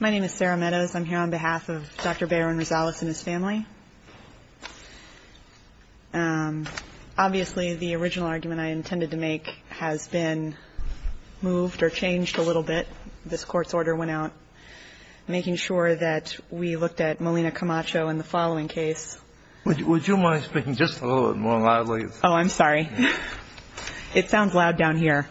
My name is Sarah Meadows. I'm here on behalf of Dr. Baron Rosales and his family. Obviously, the original argument I intended to make has been moved or changed a little bit. This Court's order went out making sure that we looked at Molina Camacho in the following case. Would you mind speaking just a little bit more loudly? Oh, I'm sorry. It sounds loud down here.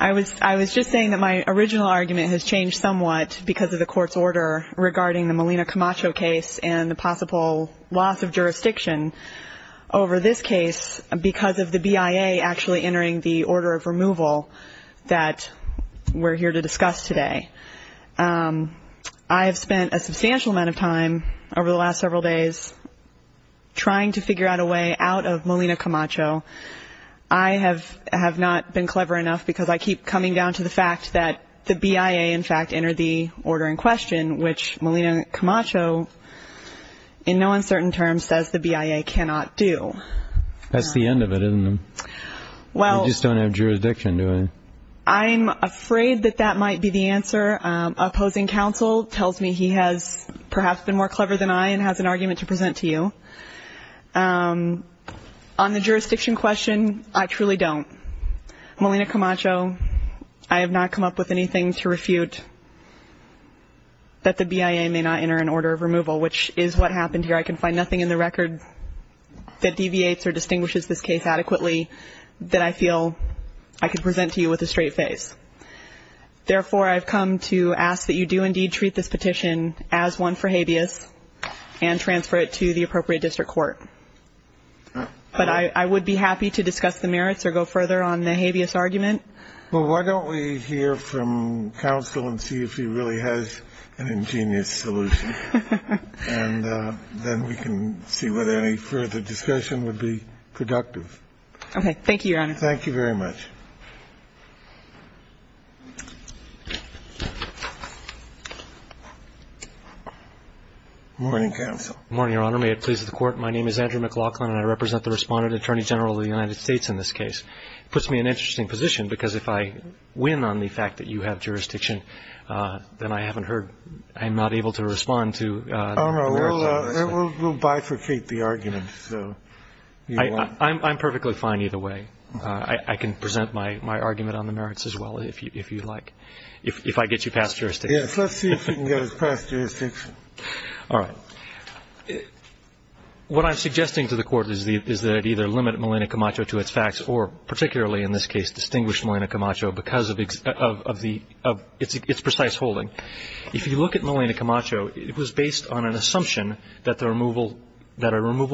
I was just saying that my original argument has changed somewhat because of the Court's order regarding the Molina Camacho case and the possible loss of jurisdiction over this case because of the BIA actually entering the order of removal that we're here to discuss today. I have spent a substantial amount of time over the last several days trying to figure out a way out of Molina Camacho. I have not been clever enough because I keep coming down to the fact that the BIA, in fact, entered the order in question, which Molina Camacho, in no uncertain terms, says the BIA cannot do. That's the end of it, isn't it? You just don't have jurisdiction, do you? I'm afraid that that might be the answer. Opposing counsel tells me he has perhaps been more clever than I and has an argument to present to you. On the jurisdiction question, I truly don't. Molina Camacho, I have not come up with anything to refute that the BIA may not enter an order of removal, which is what happened here. I can find nothing in the record that deviates or distinguishes this case adequately that I feel I could present to you with a straight face. Therefore, I've come to ask that you do indeed treat this petition as one for habeas and transfer it to the appropriate district court. But I would be happy to discuss the merits or go further on the habeas argument. Well, why don't we hear from counsel and see if he really has an ingenious solution, and then we can see whether any further discussion would be productive. Okay. Thank you, Your Honor. Thank you very much. Good morning, counsel. Good morning, Your Honor. May it please the Court, my name is Andrew McLaughlin, and I represent the Respondent Attorney General of the United States in this case. It puts me in an interesting position because if I win on the fact that you have jurisdiction, then I haven't heard, I'm not able to respond to the merits of this case. Oh, no. We'll bifurcate the argument. I'm perfectly fine either way. I can present my argument on the merits as well if you'd like, if I get you past jurisdiction. Yes, let's see if he can get us past jurisdiction. All right. What I'm suggesting to the Court is that it either limit Melina Camacho to its facts or particularly in this case distinguish Melina Camacho because of its precise holding. If you look at Melina Camacho, it was based on an assumption that a removal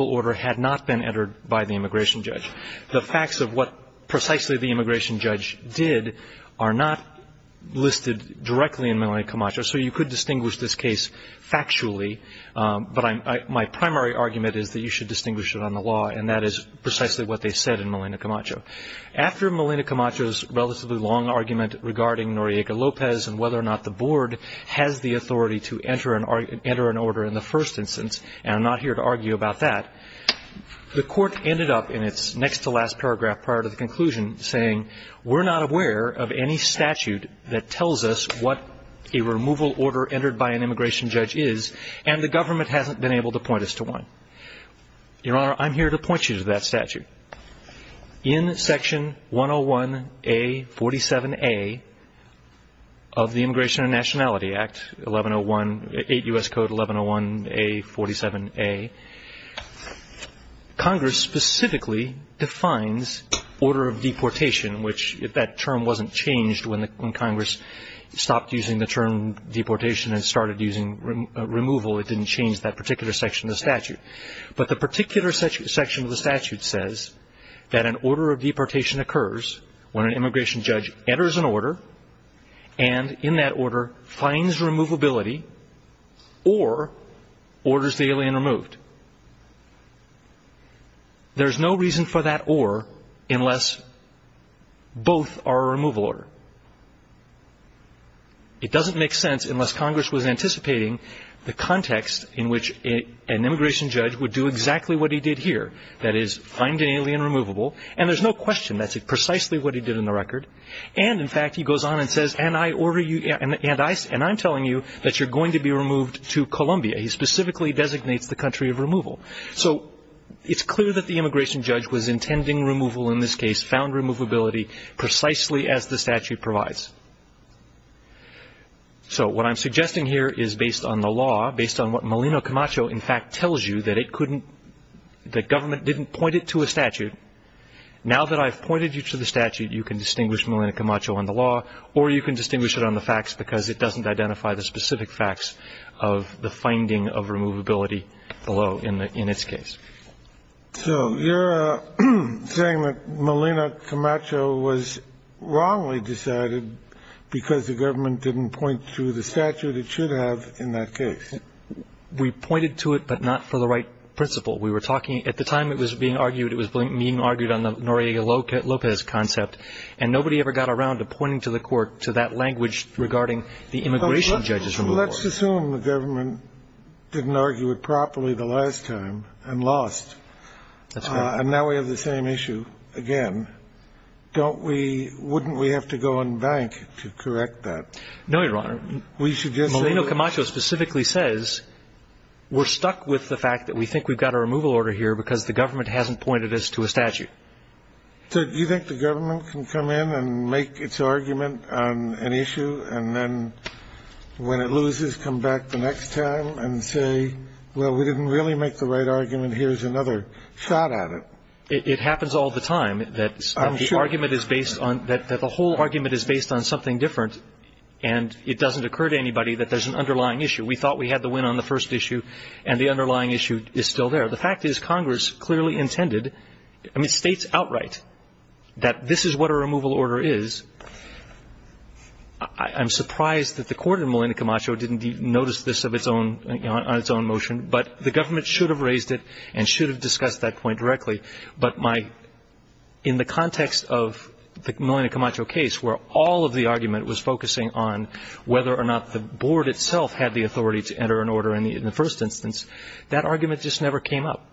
order had not been entered by the immigration judge. The facts of what precisely the immigration judge did are not listed directly in Melina Camacho, so you could distinguish this case factually, but my primary argument is that you should distinguish it on the law, and that is precisely what they said in Melina Camacho. After Melina Camacho's relatively long argument regarding Noriega-Lopez and whether or not the Board has the authority to enter an order in the first instance, and I'm not here to argue about that, the Court ended up in its next-to-last paragraph prior to the conclusion saying, we're not aware of any statute that tells us what a removal order entered by an immigration judge is, and the government hasn't been able to point us to one. Your Honor, I'm here to point you to that statute. In Section 101A-47A of the Immigration and Nationality Act, 8 U.S. Code 1101A-47A, Congress specifically defines order of deportation, which if that term wasn't changed when Congress stopped using the term deportation and started using removal, it didn't change that particular section of the statute. But the particular section of the statute says that an order of deportation occurs when an immigration judge enters an order and, in that order, finds removability or orders the alien removed. There's no reason for that or unless both are a removal order. It doesn't make sense unless Congress was anticipating the context in which an immigration judge would do exactly what he did here, that is, find an alien removable, and there's no question that's precisely what he did in the record. And, in fact, he goes on and says, and I'm telling you that you're going to be removed to Colombia. He specifically designates the country of removal. So it's clear that the immigration judge was intending removal in this case, found removability precisely as the statute provides. So what I'm suggesting here is based on the law, based on what Molina Camacho, in fact, tells you that it couldn't, that government didn't point it to a statute. Now that I've pointed you to the statute, you can distinguish Molina Camacho on the law or you can distinguish it on the facts because it doesn't identify the specific facts of the finding of removability below in its case. So you're saying that Molina Camacho was wrongly decided because the government didn't point to the statute it should have in that case. We pointed to it, but not for the right principle. We were talking at the time it was being argued, it was being argued on the Noriega-Lopez concept, and nobody ever got around to pointing to the court, to that language regarding the immigration judge's removal. Well, let's assume the government didn't argue it properly the last time and lost. That's right. And now we have the same issue again. Don't we – wouldn't we have to go and bank to correct that? No, Your Honor. We should just – Molina Camacho specifically says we're stuck with the fact that we think we've got a removal order here because the government hasn't pointed us to a statute. So do you think the government can come in and make its argument on an issue, and then when it loses, come back the next time and say, well, we didn't really make the right argument, here's another shot at it? It happens all the time. I'm sure. That the argument is based on – that the whole argument is based on something different, and it doesn't occur to anybody that there's an underlying issue. We thought we had the win on the first issue, and the underlying issue is still there. The fact is Congress clearly intended – I mean, states outright that this is what a I'm surprised that the court in Molina Camacho didn't notice this on its own motion, but the government should have raised it and should have discussed that point directly. But my – in the context of the Molina Camacho case, where all of the argument was focusing on whether or not the board itself had the authority to enter an order in the first instance, that argument just never came up.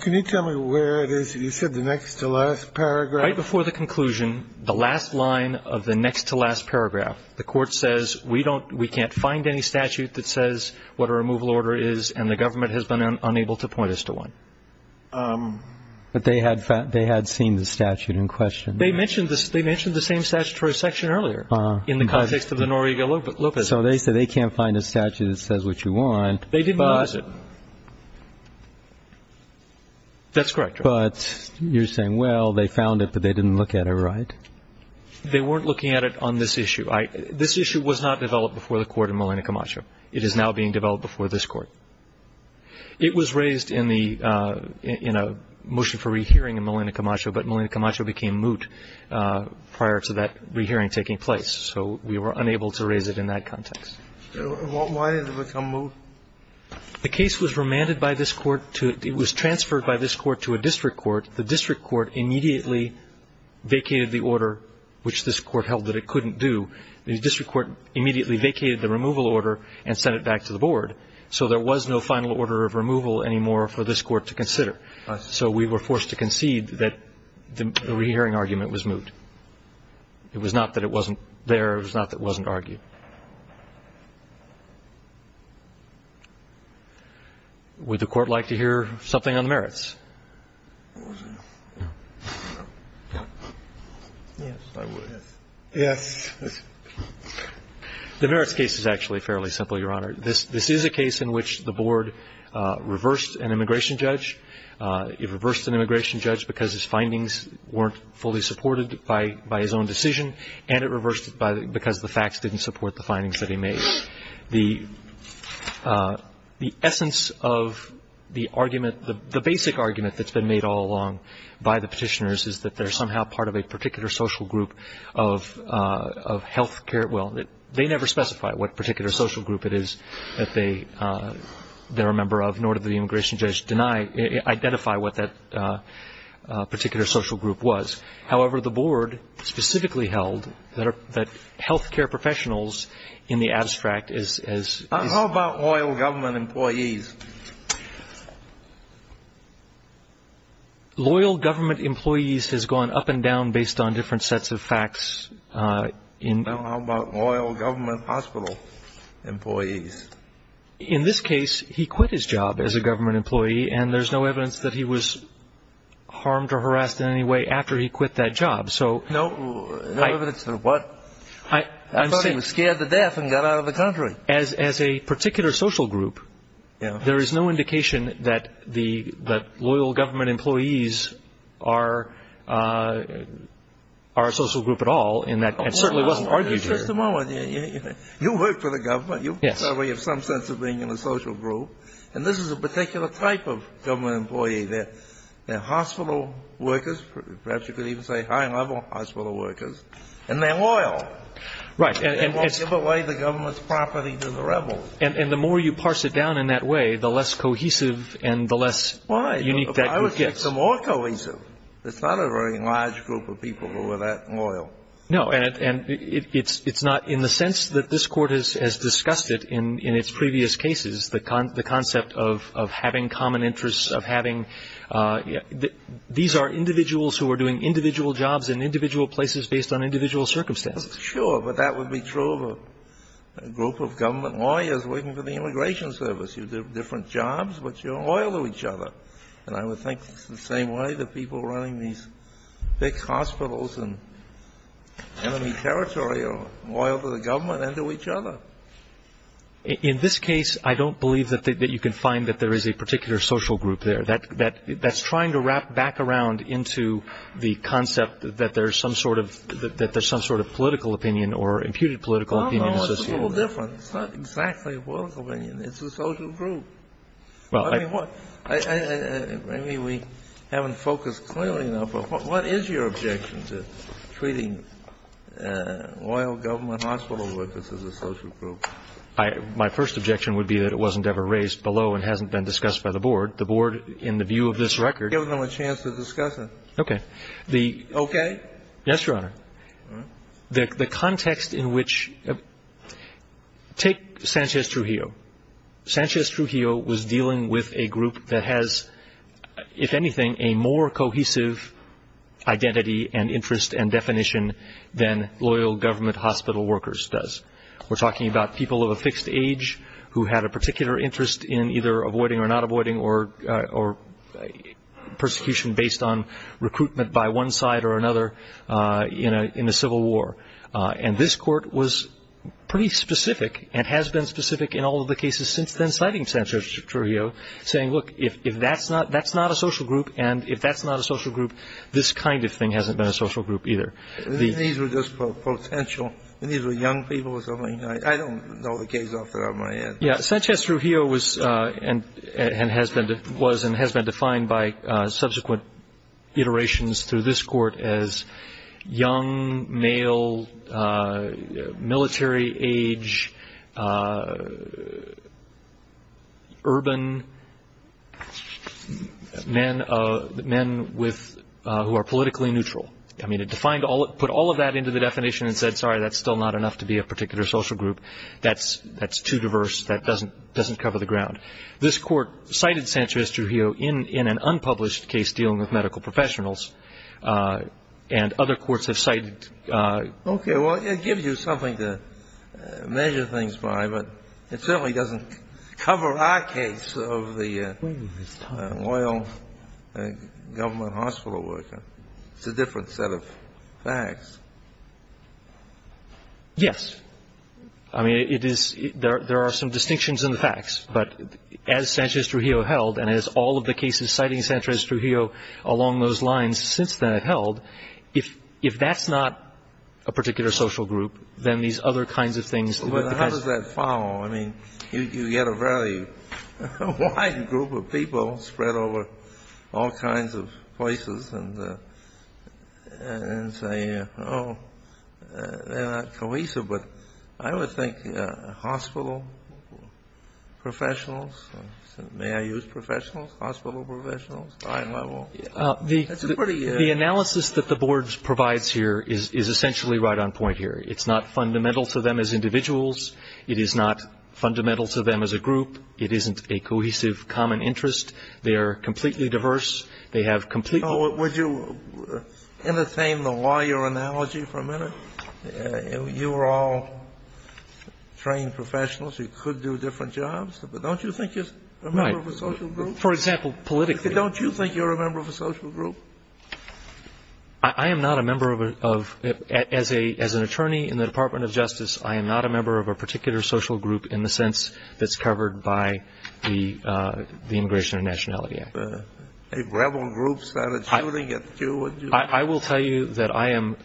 Can you tell me where it is? You said the next to last paragraph. Right before the conclusion, the last line of the next to last paragraph, the court says, we don't – we can't find any statute that says what a removal order is, and the government has been unable to point us to one. But they had seen the statute in question. They mentioned the same statutory section earlier in the context of the Noriega-Lopez case. So they said they can't find a statute that says what you want. They didn't notice it. That's correct. But you're saying, well, they found it, but they didn't look at it, right? They weren't looking at it on this issue. This issue was not developed before the court in Molina Camacho. It is now being developed before this Court. It was raised in the – in a motion for rehearing in Molina Camacho, but Molina Camacho became moot prior to that rehearing taking place. So we were unable to raise it in that context. Why did it become moot? The case was remanded by this Court to – it was transferred by this Court to a district court. The district court immediately vacated the order, which this Court held that it couldn't do. The district court immediately vacated the removal order and sent it back to the Board. So there was no final order of removal anymore for this Court to consider. So we were forced to concede that the rehearing argument was moot. It was not that it wasn't there. It was not that it wasn't argued. Would the Court like to hear something on the merits? Yes, I would. Yes. The merits case is actually fairly simple, Your Honor. This is a case in which the Board reversed an immigration judge. It reversed an immigration judge because his findings weren't fully supported by his own decision, and it reversed it because the facts didn't support it. The essence of the argument, the basic argument that's been made all along by the petitioners is that they're somehow part of a particular social group of health care – well, they never specify what particular social group it is that they're a member of, nor did the immigration judge identify what that particular social group was. However, the Board specifically held that health care professionals in the abstract is – How about loyal government employees? Loyal government employees has gone up and down based on different sets of facts. How about loyal government hospital employees? In this case, he quit his job as a government employee, and there's no evidence that he was harmed or harassed in any way after he quit that job. No evidence of what? I thought he was scared to death and got out of the country. As a particular social group, there is no indication that the loyal government employees are a social group at all, and that certainly wasn't argued here. Just a moment. You work for the government. Yes. You have some sense of being in a social group, and this is a particular type of government employee. They're hospital workers, perhaps you could even say high-level hospital workers, and they're loyal. Right. They won't give away the government's property to the rebels. And the more you parse it down in that way, the less cohesive and the less unique that group gets. Why? I would get some more cohesive. It's not a very large group of people who are that loyal. No, and it's not in the sense that this Court has discussed it in its previous cases, the concept of having common interests, of having these are individuals who are doing individual jobs in individual places based on individual circumstances. Sure, but that would be true of a group of government lawyers working for the immigration service. You do different jobs, but you're loyal to each other. And I would think it's the same way that people running these big hospitals in enemy territory are loyal to the government and to each other. In this case, I don't believe that you can find that there is a particular social group there. That's trying to wrap back around into the concept that there's some sort of political opinion or imputed political opinion associated with it. Well, no, it's a little different. It's not exactly a political opinion. It's a social group. Well, I mean, we haven't focused clearly enough. What is your objection to treating loyal government hospital workers as a social group? My first objection would be that it wasn't ever raised below and hasn't been discussed by the Board. The Board, in the view of this record ---- Give them a chance to discuss it. Okay. Okay? Yes, Your Honor. The context in which ---- take Sanchez Trujillo. Sanchez Trujillo was dealing with a group that has, if anything, a more cohesive identity and interest and definition than loyal government hospital workers does. We're talking about people of a fixed age who had a particular interest in either avoiding or not avoiding or persecution based on recruitment by one side or another in a civil war. And this Court was pretty specific and has been specific in all of the cases since then, citing Sanchez Trujillo, saying, look, if that's not a social group and if that's not a social group, this kind of thing hasn't been a social group either. These were just potential. These were young people or something. I don't know the case off the top of my head. Yes. Sanchez Trujillo was and has been defined by subsequent iterations through this Court as young male, military age, urban men who are politically neutral. I mean, it put all of that into the definition and said, sorry, that's still not enough to be a particular social group. That's too diverse. That doesn't cover the ground. But this Court cited Sanchez Trujillo in an unpublished case dealing with medical professionals, and other courts have cited. Okay. Well, it gives you something to measure things by, but it certainly doesn't cover our case of the loyal government hospital worker. It's a different set of facts. Yes. I mean, it is ‑‑ there are some distinctions in the facts, but as Sanchez Trujillo held and as all of the cases citing Sanchez Trujillo along those lines since that held, if that's not a particular social group, then these other kinds of things ‑‑ But how does that follow? I mean, you get a very wide group of people spread over all kinds of places and say, oh, they're not cohesive, but I would think hospital professionals, may I use professionals, hospital professionals, high level. The analysis that the board provides here is essentially right on point here. It's not fundamental to them as individuals. It is not fundamental to them as a group. It isn't a cohesive common interest. They are completely diverse. Would you entertain the lawyer analogy for a minute? You are all trained professionals. You could do different jobs, but don't you think you're a member of a social group? For example, politically. Don't you think you're a member of a social group? I am not a member of a ‑‑ as an attorney in the Department of Justice, I am not a member of a particular social group in the sense that's covered by the Immigration and Nationality Act. Are you a member of any of the rebel groups that are shooting at you? I will tell you that I am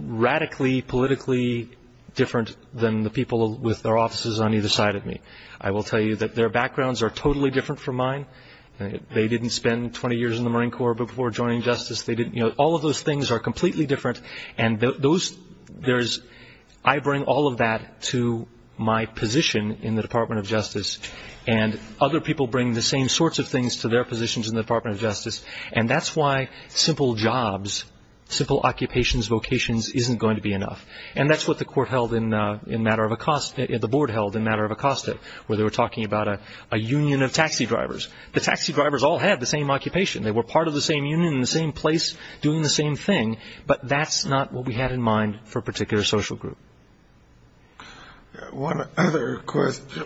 radically politically different than the people with their offices on either side of me. I will tell you that their backgrounds are totally different from mine. They didn't spend 20 years in the Marine Corps before joining Justice. All of those things are completely different. I bring all of that to my position in the Department of Justice, and other people bring the same sorts of things to their positions in the Department of Justice, and that's why simple jobs, simple occupations, vocations, isn't going to be enough. And that's what the court held in matter of ‑‑ the board held in matter of Acosta, where they were talking about a union of taxi drivers. The taxi drivers all had the same occupation. They were part of the same union in the same place doing the same thing, but that's not what we had in mind for a particular social group. One other question.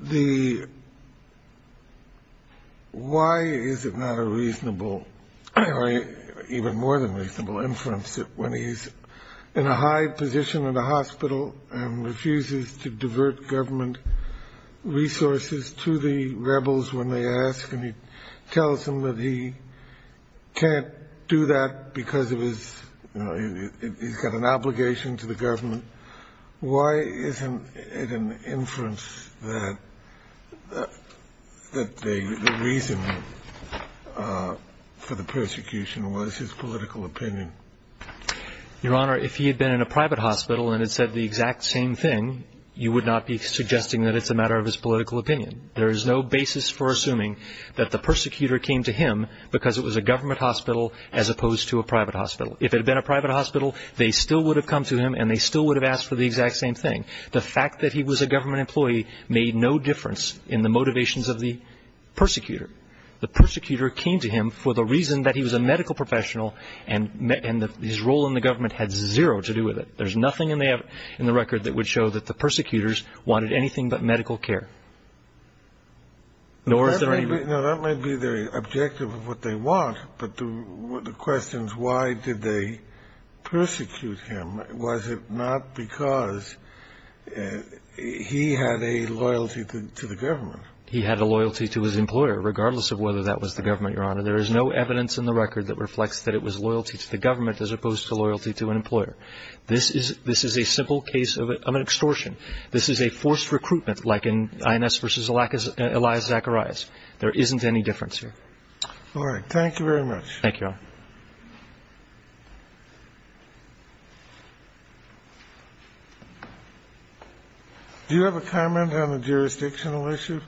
The ‑‑ why is it not a reasonable, or even more than reasonable inference, when he's in a high position in a hospital and refuses to divert government resources to the rebels when they ask, and he tells them that he can't do that because of his ‑‑ he's got an obligation to the government. Why isn't it an inference that the reason for the persecution was his political opinion? Your Honor, if he had been in a private hospital and had said the exact same thing, you would not be suggesting that it's a matter of his political opinion. There is no basis for assuming that the persecutor came to him because it was a government hospital as opposed to a private hospital. If it had been a private hospital, they still would have come to him and they still would have asked for the exact same thing. The fact that he was a government employee made no difference in the motivations of the persecutor. The persecutor came to him for the reason that he was a medical professional and his role in the government had zero to do with it. There's nothing in the record that would show that the persecutors wanted anything but medical care. That might be the objective of what they want, but the question is why did they persecute him? Was it not because he had a loyalty to the government? He had a loyalty to his employer regardless of whether that was the government, Your Honor. There is no evidence in the record that reflects that it was loyalty to the government as opposed to loyalty to an employer. This is a simple case of an extortion. This is a forced recruitment like in INS v. Elias Zacharias. There isn't any difference here. All right. Thank you very much. Thank you, Your Honor. Do you have a comment on the jurisdictional issue?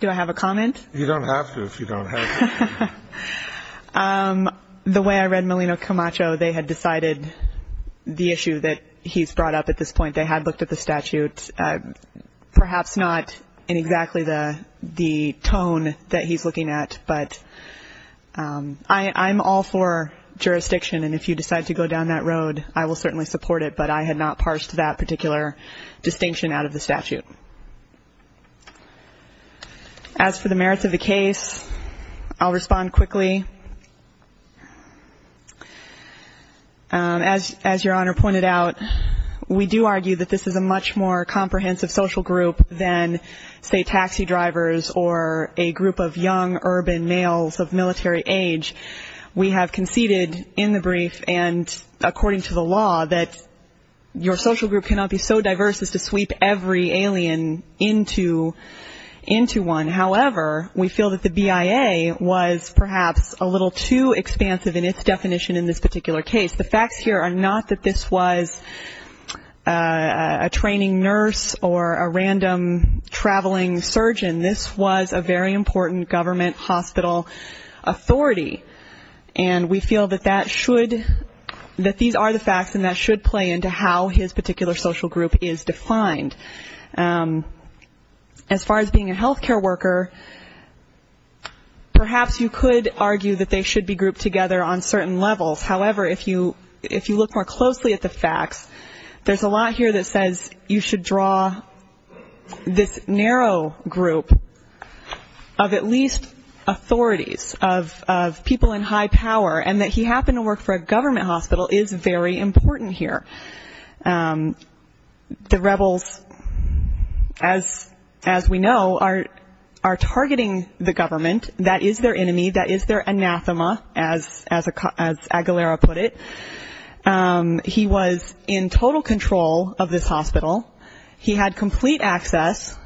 Do I have a comment? You don't have to if you don't have to. The way I read Malino Camacho, they had decided the issue that he's brought up at this point. They had looked at the statute. Perhaps not in exactly the tone that he's looking at, but I'm all for jurisdiction, and if you decide to go down that road, I will certainly support it, but I had not parsed that particular distinction out of the statute. As for the merits of the case, I'll respond quickly. As Your Honor pointed out, we do argue that this is a much more comprehensive social group than, say, taxi drivers or a group of young urban males of military age. We have conceded in the brief and according to the law that your social group cannot be so diverse as to sweep every alien into one. However, we feel that the BIA was perhaps a little too expansive in its definition in this particular case. The facts here are not that this was a training nurse or a random traveling surgeon. This was a very important government hospital authority, and we feel that these are the facts and that should play into how his particular social group is defined. As far as being a health care worker, perhaps you could argue that they should be grouped together on certain levels. However, if you look more closely at the facts, there's a lot here that says you should draw this narrow group of at least authorities, of people in high power, and that he happened to work for a government hospital is very important here. The rebels, as we know, are targeting the government. That is their enemy. That is their anathema, as Aguilera put it. He was in total control of this hospital. He had complete access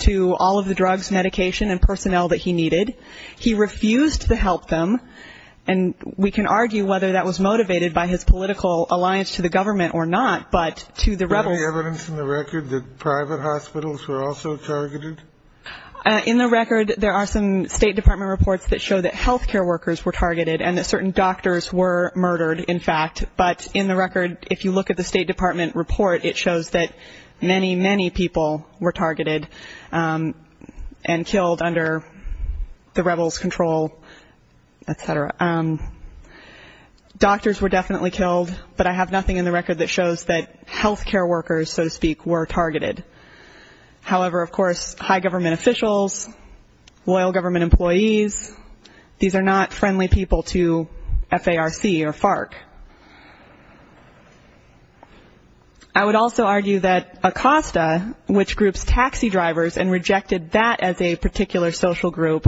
to all of the drugs, medication, and personnel that he needed. He refused to help them. And we can argue whether that was motivated by his political alliance to the government or not, but to the rebels. Any evidence in the record that private hospitals were also targeted? In the record, there are some State Department reports that show that health care workers were targeted and that certain doctors were murdered, in fact. But in the record, if you look at the State Department report, it shows that many, many people were targeted and killed under the rebels' control, et cetera. Doctors were definitely killed, but I have nothing in the record that shows that health care workers, so to speak, were targeted. However, of course, high government officials, loyal government employees, these are not friendly people to FARC or FARC. I would also argue that ACOSTA, which groups taxi drivers and rejected that as a particular social group,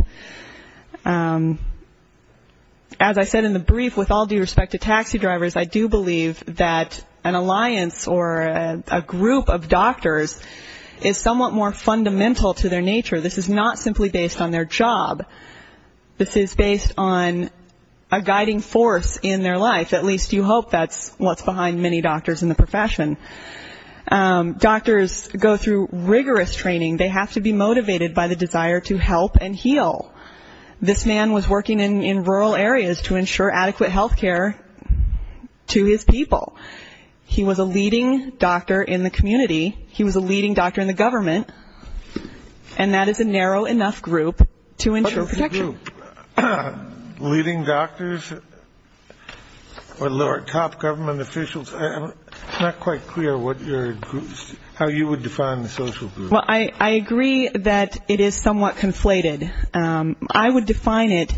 as I said in the brief, with all due respect to taxi drivers, I do believe that an alliance or a group of doctors is somewhat more fundamental to their nature. This is not simply based on their job. This is based on a guiding force in their life. At least you hope that's what's behind many doctors in the profession. Doctors go through rigorous training. They have to be motivated by the desire to help and heal. This man was working in rural areas to ensure adequate health care to his people. He was a leading doctor in the community. He was a leading doctor in the government. And that is a narrow enough group to ensure protection. But as a group, leading doctors or top government officials, it's not quite clear how you would define the social group. Well, I agree that it is somewhat conflated. I would define it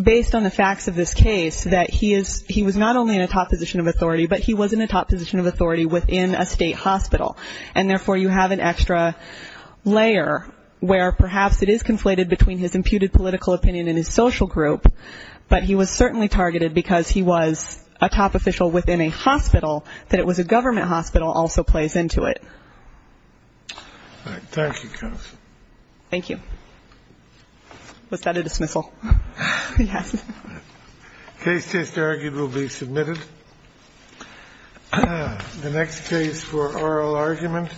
based on the facts of this case, that he was not only in a top position of authority, but he was in a top position of authority within a state hospital. And, therefore, you have an extra layer where perhaps it is conflated between his imputed political opinion and his social group, but he was certainly targeted because he was a top official within a hospital, that it was a government hospital also plays into it. All right. Thank you, counsel. Thank you. Was that a dismissal? Yes. Case just argued will be submitted. The next case for oral argument.